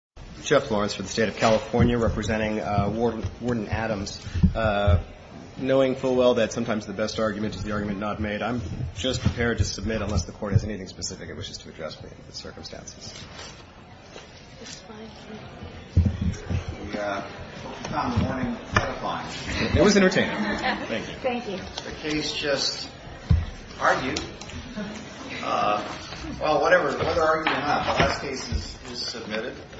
knowing full well that sometimes the best argument is the argument not made, I'm just prepared to submit unless the Court has anything specific it wishes to address with the circumstances. We hope you found the morning quite a fine. It was entertaining. Thank you. Thank you. The case just argued. Well, whatever argument you have, the last case is submitted.